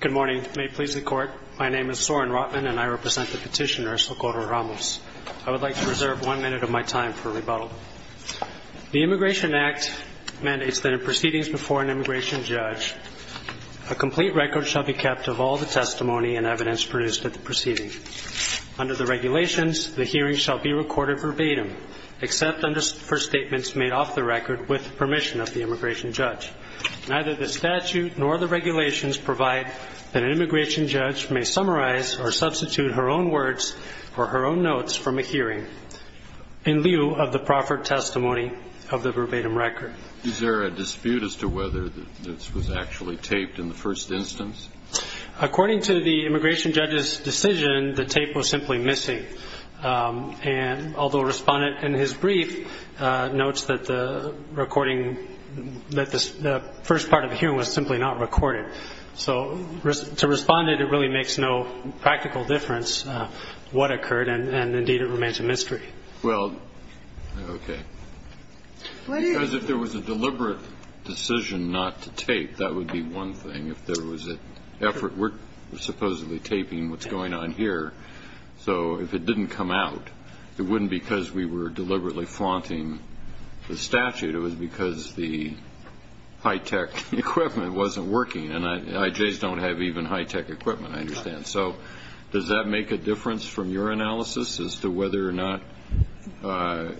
Good morning. May it please the court, my name is Soren Rotman, and I represent the petitioner, Socorro Ramos. I would like to reserve one minute of my time for rebuttal. The Immigration Act mandates that in proceedings before an immigration judge, a complete record shall be kept of all the testimony and evidence produced at the proceeding. Under the regulations, the hearing shall be recorded verbatim, except for statements made off the record with permission of the immigration judge. Neither the statute nor the regulations provide that an immigration judge may summarize or substitute her own words or her own notes from a hearing in lieu of the proffered testimony of the verbatim record. Is there a dispute as to whether this was actually taped in the first instance? According to the immigration judge's decision, the tape was simply missing. And although a respondent in his brief notes that the recording, that the first part of the hearing was simply not recorded. So to respondent, it really makes no practical difference what occurred, and indeed, it remains a mystery. Well, OK, because if there was a deliberate decision not to tape, that would be one thing. If there was an effort, we're supposedly taping what's going on here. So if it didn't come out, it wouldn't because we were deliberately flaunting the statute. It was because the high tech equipment wasn't working. And IJs don't have even high tech equipment, I understand. So does that make a difference from your analysis as to whether or not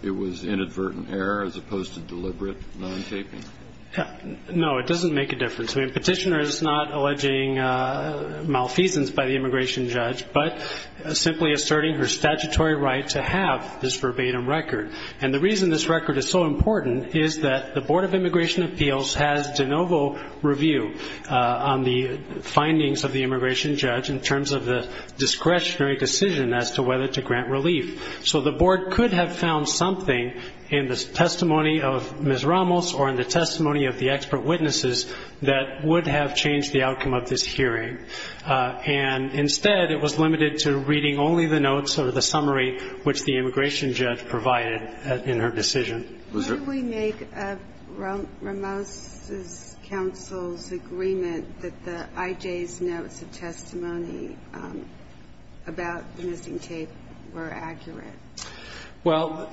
it was inadvertent error as opposed to deliberate non-taping? No, it doesn't make a difference. Petitioner is not alleging malfeasance by the immigration judge, but simply asserting her statutory right to have this verbatim record. And the reason this record is so important is that the Board of Immigration Appeals has de novo review on the findings of the immigration judge in terms of the discretionary decision as to whether to grant relief. So the board could have found something in the testimony of Ms. Ramos or in the testimony of the expert witnesses that would have changed the outcome of this hearing. And instead, it was limited to reading only the notes or the summary which the immigration judge provided in her decision. Why did we make Ramos' counsel's agreement that the IJ's notes of testimony about the missing tape were accurate? Well,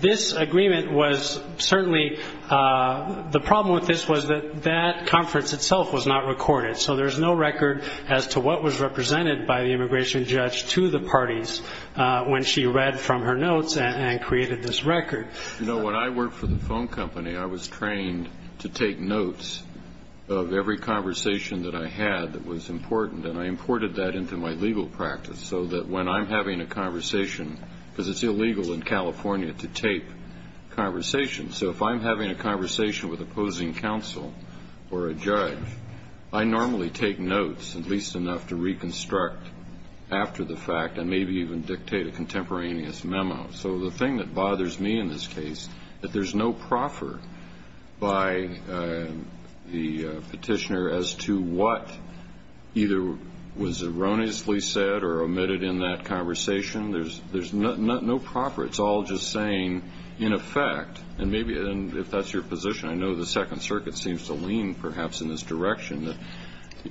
this agreement was certainly, the problem with this was that that conference itself was not recorded. So there's no record as to what was represented by the immigration judge to the parties when she read from her notes and created this record. You know, when I worked for the phone company, I was trained to take notes of every conversation that I had that was important. And I imported that into my legal practice so that when I'm having a conversation, because it's illegal in California to tape conversations. So if I'm having a conversation with opposing counsel or a judge, I normally take notes at least enough to reconstruct after the fact and maybe even dictate a contemporaneous memo. So the thing that bothers me in this case, that there's no proffer by the petitioner as to what either was erroneously said or omitted in that conversation. There's no proffer. It's all just saying, in effect. And maybe if that's your position, I know the Second Circuit seems to lean, perhaps, in this direction, that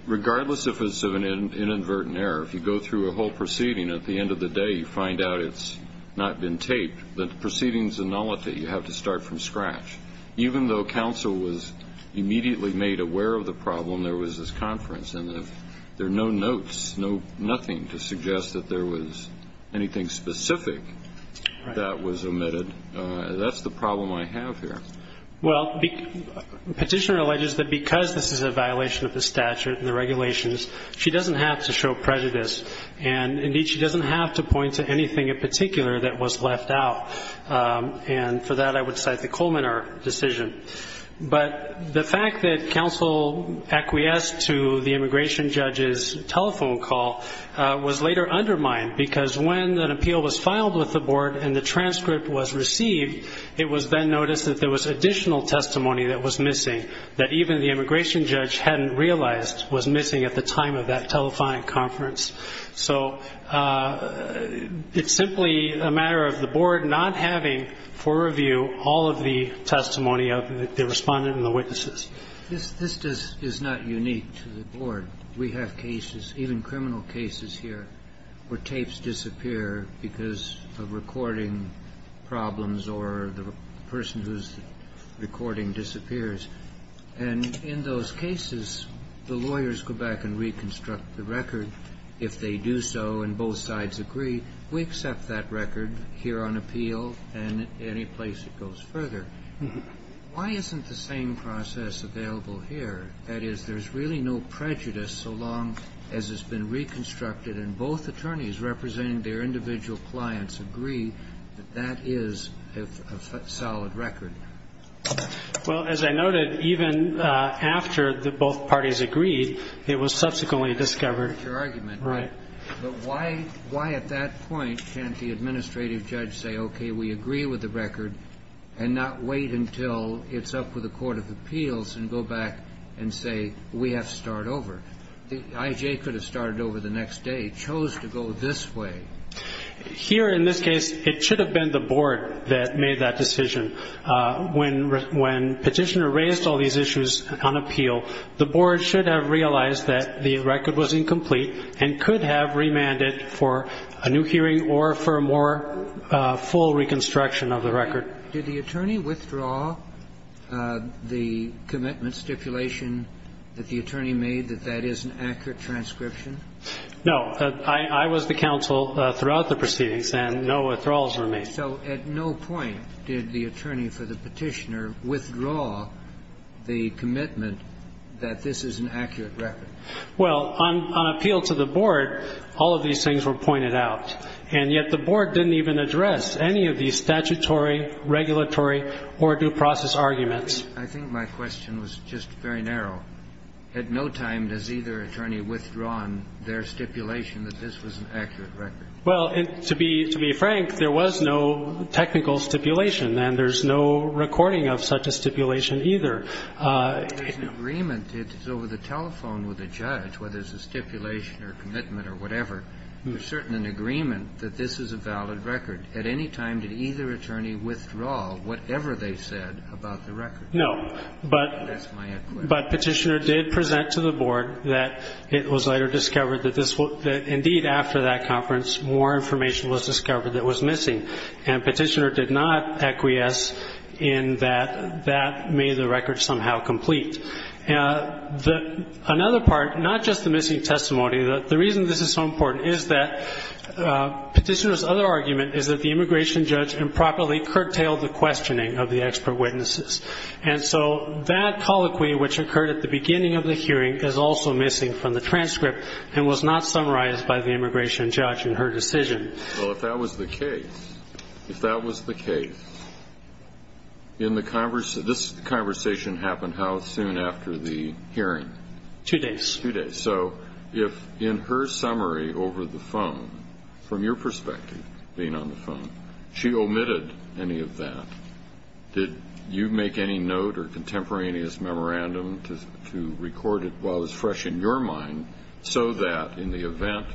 regardless if it's of an inadvertent error, if you go through a whole proceeding, at the end of the day you find out it's not been taped. The proceedings annul it. You have to start from scratch. Even though counsel was immediately made aware of the problem, there was this conference. And if there are no notes, nothing to suggest that there was anything specific that was omitted, that's the problem I have here. Well, petitioner alleges that because this is a violation of the statute and the regulations, she doesn't have to show prejudice. And indeed, she doesn't have to point to anything in particular that was left out. And for that, I would cite the Coleman decision. But the fact that counsel acquiesced to the immigration judge's telephone call was later undermined. Because when an appeal was filed with the board and the transcript was received, it was then noticed that there was additional testimony that was missing, that even the immigration judge hadn't realized was missing at the time of that telephonic conference. So it's simply a matter of the board not having for review all of the testimony of the respondent and the witnesses. This is not unique to the board. We have cases, even criminal cases here, where tapes disappear because of recording problems or the person who's recording disappears. And in those cases, the lawyers go back and reconstruct the record. If they do so and both sides agree, we accept that record here on appeal and any place it goes further. Why isn't the same process available here? That is, there's really no prejudice so long as it's been reconstructed. And both attorneys representing their individual clients agree that that is a solid record. Well, as I noted, even after both parties agreed, it was subsequently discovered. That's your argument, right? Right. But why at that point can't the administrative judge say, OK, we agree with the record, and not wait until it's up with the Court of Appeals and go back and say, we have to start over? The IJ could have started over the next day, chose to go this way. Here, in this case, it should have been the board that made that decision. When petitioner raised all these issues on appeal, the board should have realized that the record was incomplete and could have remanded for a new hearing or for a more full reconstruction of the record. Did the attorney withdraw the commitment, stipulation that the attorney made that that is an accurate transcription? No, I was the counsel throughout the proceedings, and no withdrawals were made. So at no point did the attorney for the petitioner withdraw the commitment that this is an accurate record. Well, on appeal to the board, all of these things were pointed out. And yet the board didn't even address any of these statutory, regulatory, or due process arguments. I think my question was just very narrow. At no time does either attorney withdraw on their stipulation that this was an accurate record. Well, to be frank, there was no technical stipulation, and there's no recording of such a stipulation either. There's an agreement. It's over the telephone with the judge, whether it's a stipulation or commitment or whatever. There's certainly an agreement that this is a valid record. At any time, did either attorney withdraw whatever they said about the record? No. But petitioner did present to the board that it was later discovered that indeed after that conference, more information was discovered that was missing. And petitioner did not acquiesce in that that made the record somehow complete. Another part, not just the missing testimony, the reason this is so important is that petitioner's other argument is that the immigration judge improperly curtailed the questioning of the expert witnesses. And so that colloquy, which occurred at the beginning of the hearing, is also missing from the transcript and was not summarized by the immigration judge in her decision. Well, if that was the case, if that was the case, this conversation happened how soon after the hearing? Two days. Two days. So if in her summary over the phone, from your perspective, being on the phone, she omitted any of that, did you make any note or contemporaneous memorandum to record it while it was fresh in your mind so that in the event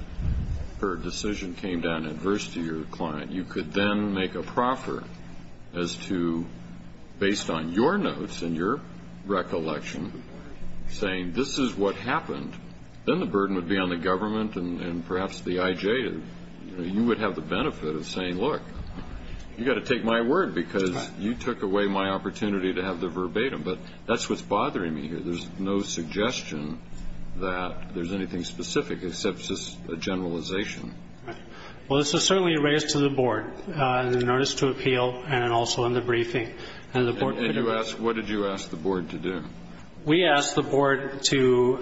her decision came down adverse to your client, you could then make a proffer as to, based on your notes and your recollection, saying this is what happened, then the burden would be on the government and perhaps the IJ. You would have the benefit of saying, look, you've got to take my word because you took away my opportunity to have the verbatim. But that's what's bothering me here. There's no suggestion that there's anything specific except just a generalization. Well, this was certainly raised to the board in the notice to appeal and also in the briefing. And the board could have asked. What did you ask the board to do? We asked the board to,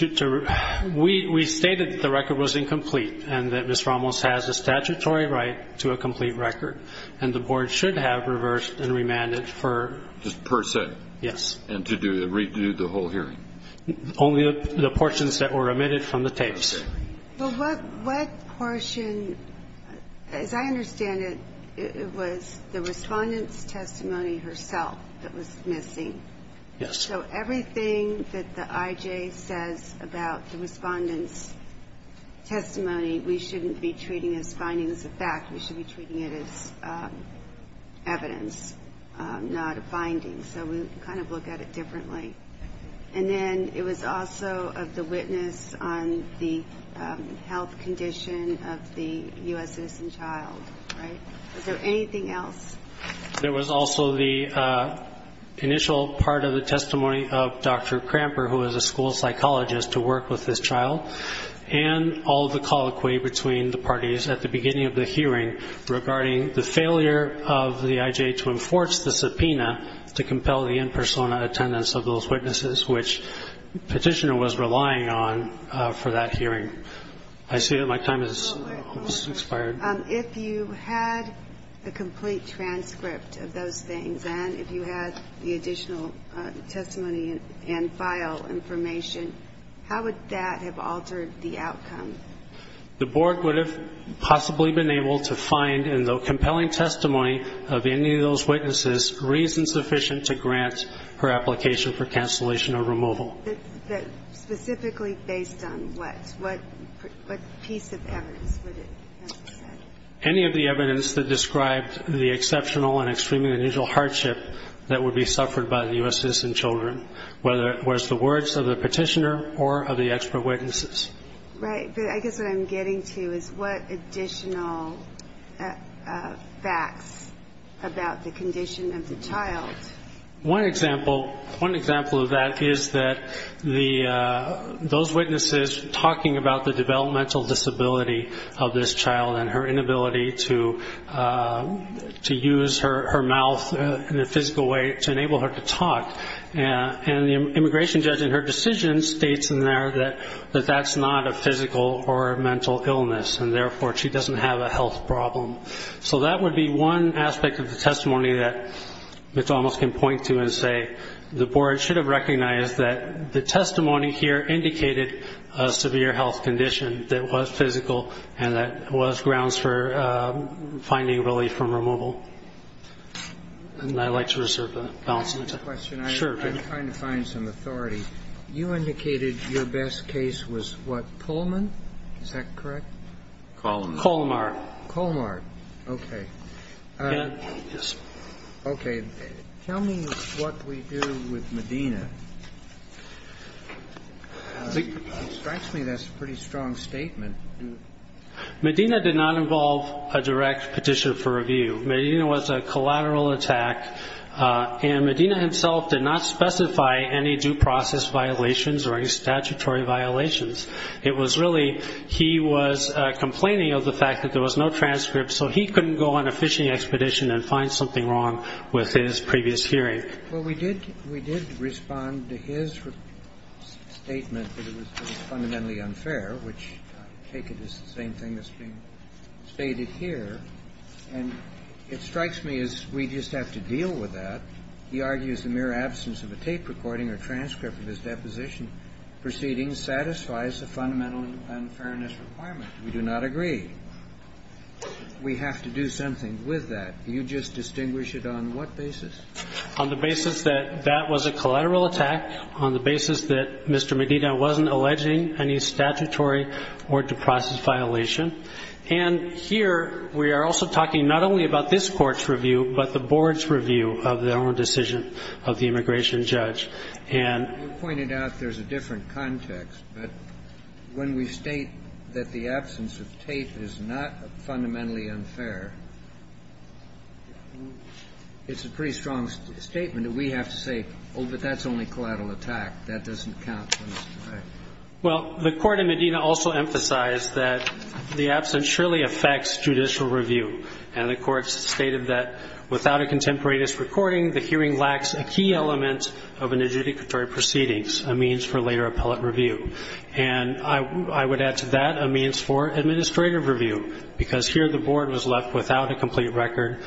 we stated that the record was incomplete and that Ms. Ramos has a statutory right to a complete record. And the board should have reversed and remanded for. Just per se? Yes. And to redo the whole hearing? Only the portions that were omitted from the tapes. Well, what portion, as I understand it, it was the respondent's testimony herself that was missing. Yes. So everything that the IJ says about the respondent's testimony, we shouldn't be treating as findings of fact. We should be treating it as evidence, not a finding. So we kind of look at it differently. And then it was also of the witness on the health condition of the US citizen child, right? Is there anything else? There was also the initial part of the testimony of Dr. Cramper, who is a school psychologist, as to work with this child, and all the colloquy between the parties at the beginning of the hearing regarding the failure of the IJ to enforce the subpoena to compel the in-person attendance of those witnesses, which the petitioner was relying on for that hearing. I see that my time has expired. If you had a complete transcript of those things, if you had the additional testimony and file information, how would that have altered the outcome? The board would have possibly been able to find, in the compelling testimony of any of those witnesses, reason sufficient to grant her application for cancellation or removal. Specifically based on what? What piece of evidence would it have said? Any of the evidence that described the exceptional and extremely unusual hardship that would be suffered by the US citizen children, whether it was the words of the petitioner or of the expert witnesses. Right, but I guess what I'm getting to is what additional facts about the condition of the child? One example of that is that those witnesses talking about the developmental disability of this child and her inability to use her mouth in a physical way to enable her to talk. And the immigration judge in her decision states in there that that's not a physical or mental illness. And therefore, she doesn't have a health problem. So that would be one aspect of the testimony that Mitch almost can point to and say, the board should have recognized that the testimony here indicated a severe health condition that was physical and that was grounds for finding relief from removal. And I'd like to reserve the balance of my time. I have a question. I'm trying to find some authority. You indicated your best case was what, Pullman? Is that correct? Colomar. Colomar. Colomar. OK. OK, tell me what we do with Medina. It strikes me that's a pretty strong statement. Medina did not involve a direct petition for review. Medina was a collateral attack. And Medina himself did not specify any due process violations or any statutory violations. It was really he was complaining of the fact that there was no transcript, so he couldn't go on a fishing expedition and find something wrong with his previous hearing. Well, we did respond to his statement that it was fundamentally unfair, which I take it is the same thing that's being stated here. And it strikes me as we just have to deal with that. He argues the mere absence of a tape recording or transcript of his deposition proceedings satisfies the fundamental unfairness requirement. We do not agree. We have to do something with that. You just distinguish it on what basis? On the basis that that was a collateral attack, on the basis that Mr. Medina wasn't alleging any statutory or due process violation. And here, we are also talking not only about this court's review, but the board's review of their own decision of the immigration judge. And you pointed out there's a different context. But when we state that the absence of tape is not fundamentally unfair, it's a pretty strong statement. And we have to say, oh, but that's only collateral attack. That doesn't count. Well, the court in Medina also emphasized that the absence surely affects judicial review. And the court stated that without a contemporaneous recording, the hearing lacks a key element of an adjudicatory proceedings, a means for later appellate review. And I would add to that a means for administrative review. Because here, the board was left without a complete record,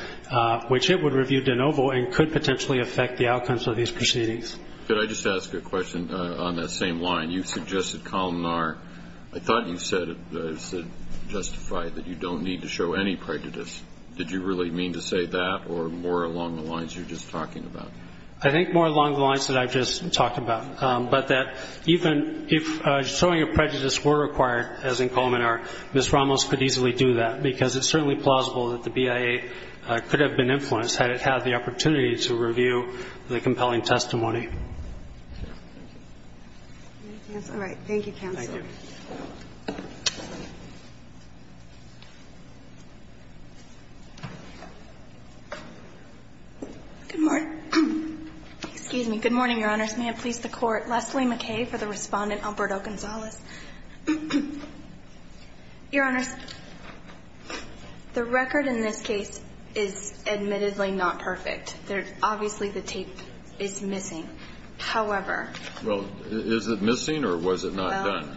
which it would review de novo and could potentially affect the outcomes of these proceedings. Could I just ask a question on that same line? You suggested column R. I thought you said it justified that you don't need to show any prejudice. Did you really mean to say that, or more along the lines you're just talking about? I think more along the lines that I've just talked about. But that even if showing a prejudice were required, as in column R, Ms. Ramos could easily do that. Because it's certainly plausible that the BIA could have been influenced, had it had the opportunity to review the compelling testimony. All right. Thank you, counsel. Thank you. Good morning. Excuse me. Good morning, Your Honors. May it please the Court. Leslie McKay for the Respondent, Alberto Gonzalez. Your Honors, the record in this case is admittedly not perfect. Obviously, the tape is missing. However. Well, is it missing or was it not done? Well,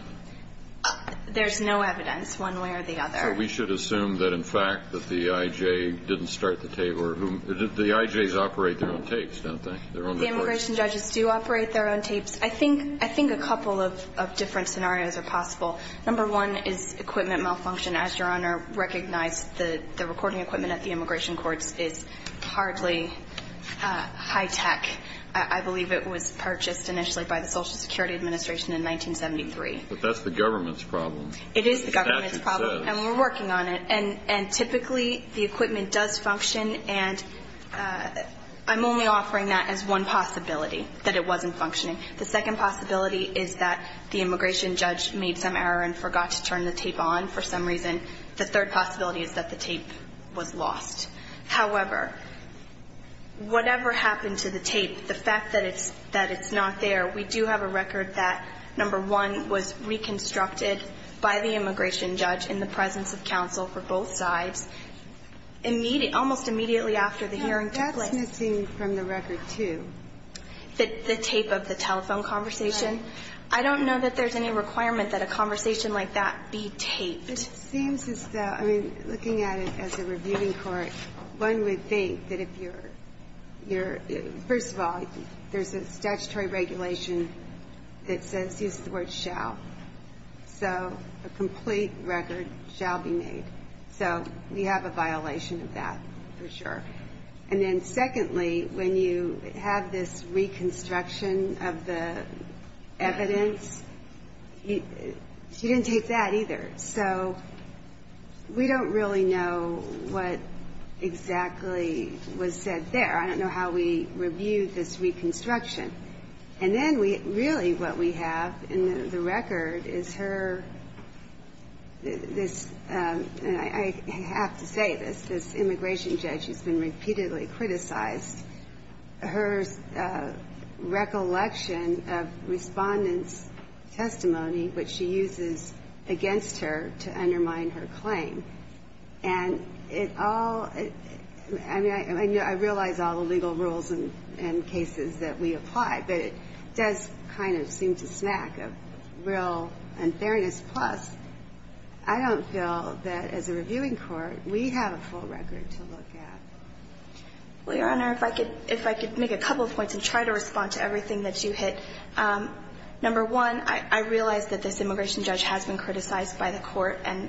there's no evidence one way or the other. So we should assume that, in fact, that the IJ didn't start the tape, or the IJs operate their own tapes, don't they, their own reports? The immigration judges do operate their own tapes. I think a couple of different scenarios are possible. Number one is equipment malfunction. As Your Honor recognized, the recording equipment at the immigration courts is hardly high tech. I believe it was purchased initially by the Social Security Administration in 1973. But that's the government's problem. It is the government's problem. And we're working on it. And typically, the equipment does function. And I'm only offering that as one possibility, that it wasn't functioning. The second possibility is that the immigration judge made some error and forgot to turn the tape on for some reason. The third possibility is that the tape was lost. However, whatever happened to the tape, the fact that it's not there, we do have a record that, number one, was reconstructed by the immigration judge in the presence of counsel for both sides almost immediately after the hearing took place. That's missing from the record, too. The tape of the telephone conversation? I don't know that there's any requirement that a conversation like that be taped. It seems as though, I mean, looking at it as a reviewing court, one would think that if you're, first of all, there's a statutory regulation that says, use the word shall. So a complete record shall be made. So we have a violation of that, for sure. And then secondly, when you have this reconstruction of the evidence, she didn't take that either. So we don't really know what exactly was said there. I don't know how we reviewed this reconstruction. And then we, really, what we have in the record is her, this, and I have to say this, this immigration judge who's been repeatedly criticized, her recollection of respondent's testimony, which she uses against her to undermine her claim. And it all, I mean, I realize all the legal rules and cases that we apply, but it does kind of seem to smack a real unfairness. Plus, I don't feel that as a reviewing court, we have a full record to look at. Well, Your Honor, if I could make a couple of points and try to respond to everything that you hit. Number one, I realize that this immigration judge has been criticized by the court. And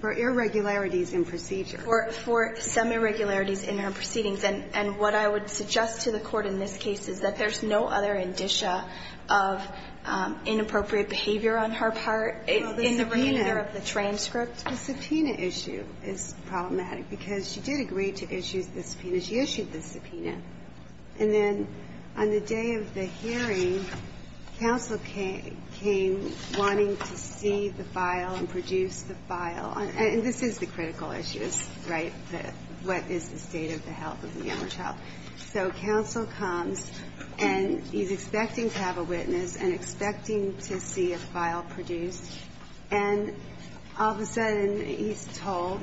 for irregularities in procedure. For some irregularities in her proceedings. And what I would suggest to the court in this case is that there's no other indicia of inappropriate behavior on her part in the remainder of the transcript. The subpoena issue is problematic because she did agree to issue the subpoena. She issued the subpoena. And then on the day of the hearing, counsel came wanting to see the file and produce the file. And this is the critical issues, right? What is the state of the health of the younger child? So counsel comes and he's expecting to have a witness and expecting to see a file produced. And all of a sudden, he's told,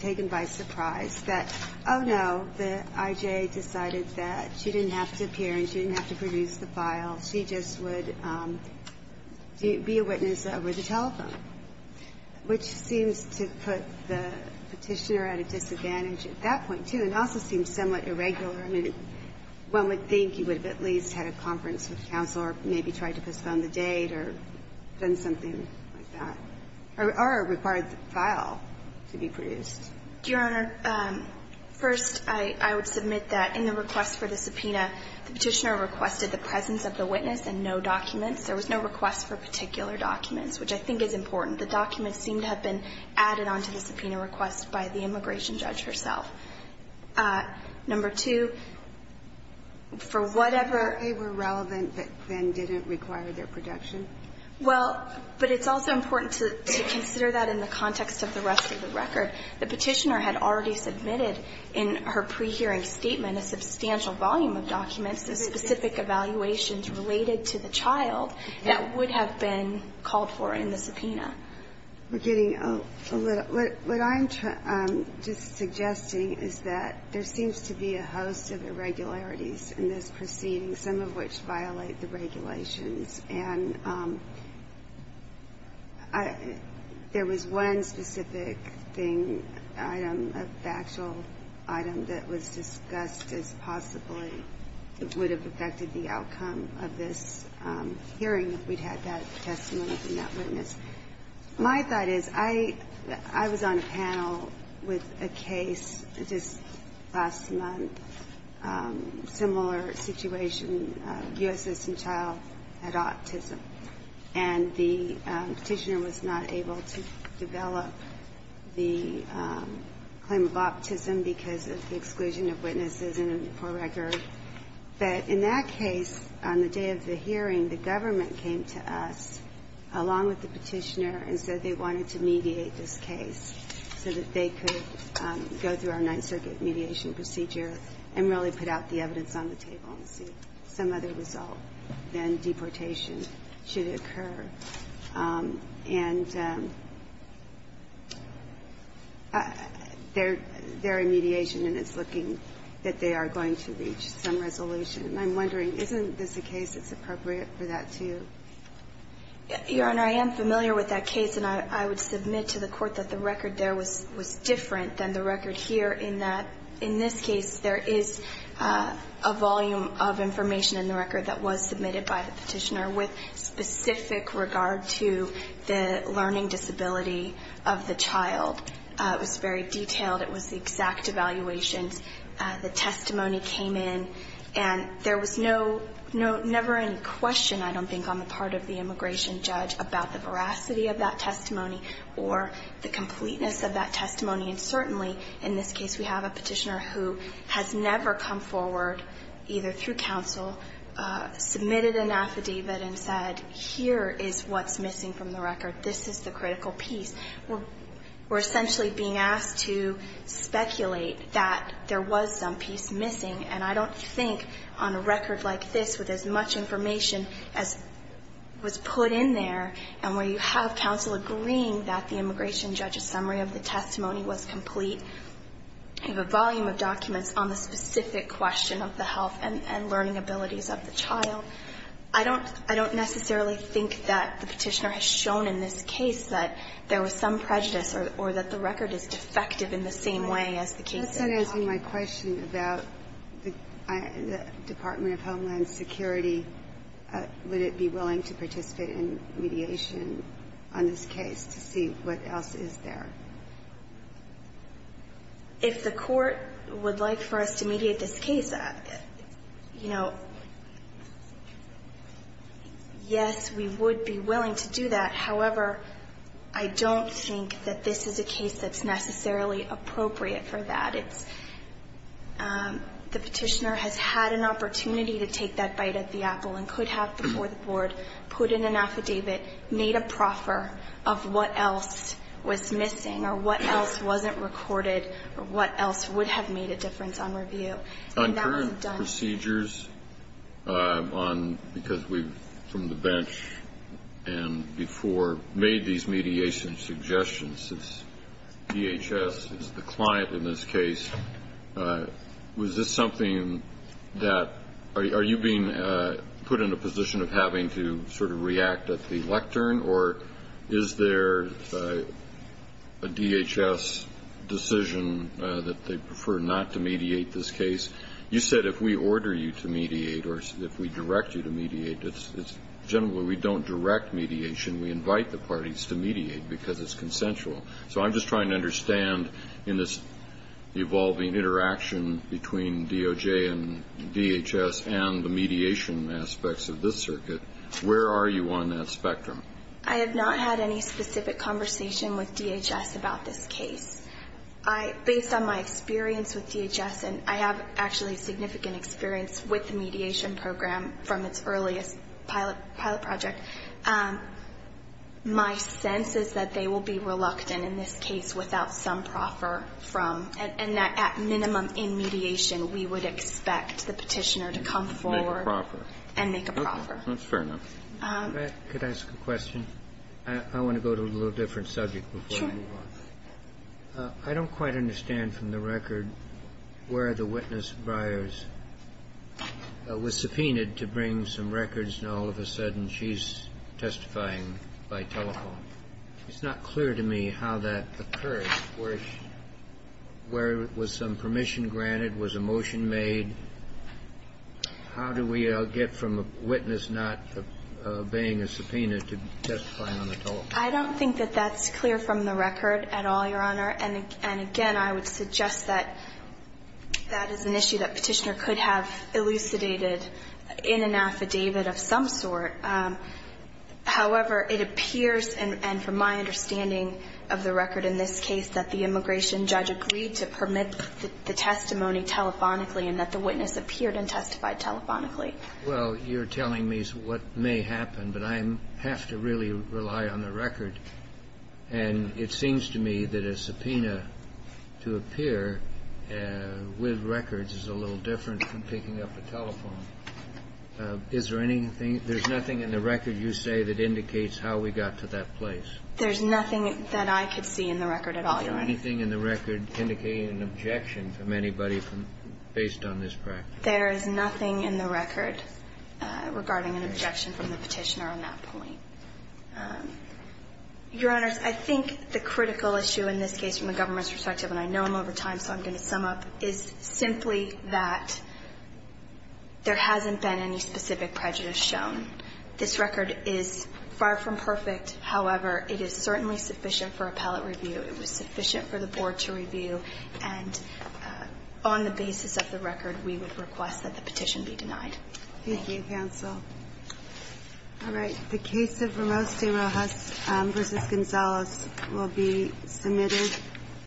taken by surprise, that, oh, no, the IJ decided that she didn't have to appear and she didn't have to produce the file. She just would be a witness over the telephone. Which seems to put the Petitioner at a disadvantage at that point, too. And it also seems somewhat irregular. I mean, one would think you would have at least had a conference with counsel or maybe tried to postpone the date or done something like that. Or required the file to be produced. Your Honor, first, I would submit that in the request for the subpoena, the Petitioner requested the presence of the witness and no documents. There was no request for particular documents, which I think is important. The documents seem to have been added onto the subpoena request by the immigration judge herself. Number two, for whatever ---- They were relevant, but then didn't require their production? Well, but it's also important to consider that in the context of the rest of the record. The Petitioner had already submitted in her pre-hearing statement a substantial volume of documents, specific evaluations related to the child that would have been called for in the subpoena. We're getting a little ---- what I'm just suggesting is that there seems to be a host of irregularities in this proceeding, some of which violate the regulations. And there was one specific thing, item, a factual item that was discussed as possibly would have affected the outcome of this hearing if we'd had that testimony from that witness. My thought is I was on a panel with a case just last month, similar situation, U.S. citizen child had autism, and the Petitioner was not able to develop the claim of autism because of the exclusion of witnesses and a poor record. But in that case, on the day of the hearing, the government came to us, along with the Petitioner, and said they wanted to mediate this case so that they could go through our Ninth Circuit mediation procedure and really put out the evidence on the table and see some other result than deportation should occur. And they're in mediation, and it's looking that they are going to reach some resolution. And I'm wondering, isn't this a case that's appropriate for that, too? Your Honor, I am familiar with that case, and I would submit to the Court that the record there was different than the record here in that, in this case, there is a volume of information in the record that was submitted by the Petitioner with specific regard to the learning disability of the child. It was very detailed. It was the exact evaluations. The testimony came in. And there was never any question, I don't think, on the part of the immigration judge about the veracity of that testimony or the completeness of that testimony. And certainly, in this case, we have a Petitioner who has never come forward, either through counsel, submitted an affidavit, and said, here is what's missing from the record. This is the critical piece. We're essentially being asked to speculate that there was some piece missing. And I don't think, on a record like this, with as much information as was put in there, and where you have counsel agreeing that the immigration judge's summary of the testimony was complete, you have a volume of documents on the specific question of the health and learning abilities of the child. I don't necessarily think that the Petitioner has shown in this case that there was some prejudice or that the record is defective in the same way as the case is. I'm asking my question about the Department of Homeland Security, would it be willing to participate in mediation on this case to see what else is there? If the Court would like for us to mediate this case, you know, yes, we would be willing to do that. However, I don't think that this is a case that's necessarily appropriate for that. The Petitioner has had an opportunity to take that bite at the apple and could have, before the Board, put in an affidavit, made a proffer of what else was missing or what else wasn't recorded or what else would have made a difference on review. And that was a done deal. On current procedures, because we've, from the bench and before, made these mediation suggestions, since DHS is the client in this case, was this something that, are you being put in a position of having to sort of react at the lectern or is there a DHS decision that they prefer not to mediate this case? You said if we order you to mediate or if we direct you to mediate, it's generally, we don't direct mediation. We invite the parties to mediate because it's consensual. So I'm just trying to understand, in this evolving interaction between DOJ and DHS and the mediation aspects of this circuit, where are you on that spectrum? I have not had any specific conversation with DHS about this case. I, based on my experience with DHS, and I have actually significant experience with the mediation program from its earliest pilot project, my sense is that they will be reluctant in this case without some proffer from, and that at minimum in mediation, we would expect the Petitioner to come forward and make a proffer. Okay. That's fair enough. Could I ask a question? I want to go to a little different subject before I move on. Sure. I don't quite understand from the record where the witness, Briars, was subpoenaed to bring some records, and all of a sudden she's testifying by telephone. It's not clear to me how that occurred. Where was some permission granted? Was a motion made? How do we get from a witness not obeying a subpoena to testifying on the telephone? I don't think that that's clear from the record at all, Your Honor. And again, I would suggest that that is an issue that Petitioner could have elucidated in an affidavit of some sort. However, it appears, and from my understanding of the record in this case, that the immigration judge agreed to permit the testimony telephonically and that the witness appeared and testified telephonically. Well, you're telling me what may happen, but I have to really rely on the record. And it seems to me that a subpoena to appear with records is a little different from picking up a telephone. Is there anything? There's nothing in the record, you say, that indicates how we got to that place. There's nothing that I could see in the record at all, Your Honor. Is there anything in the record indicating an objection from anybody based on this practice? There is nothing in the record regarding an objection from the Petitioner on that point. Your Honors, I think the critical issue in this case from the government's perspective, and I know I'm over time, so I'm going to sum up, is simply that there hasn't been any specific prejudice shown. This record is far from perfect. However, it is certainly sufficient for appellate review. It was sufficient for the Board to review. And on the basis of the record, we would request that the petition be denied. Thank you. Thank you, counsel. All right. The case of Ramos de Rojas v. Gonzalez will be submitted.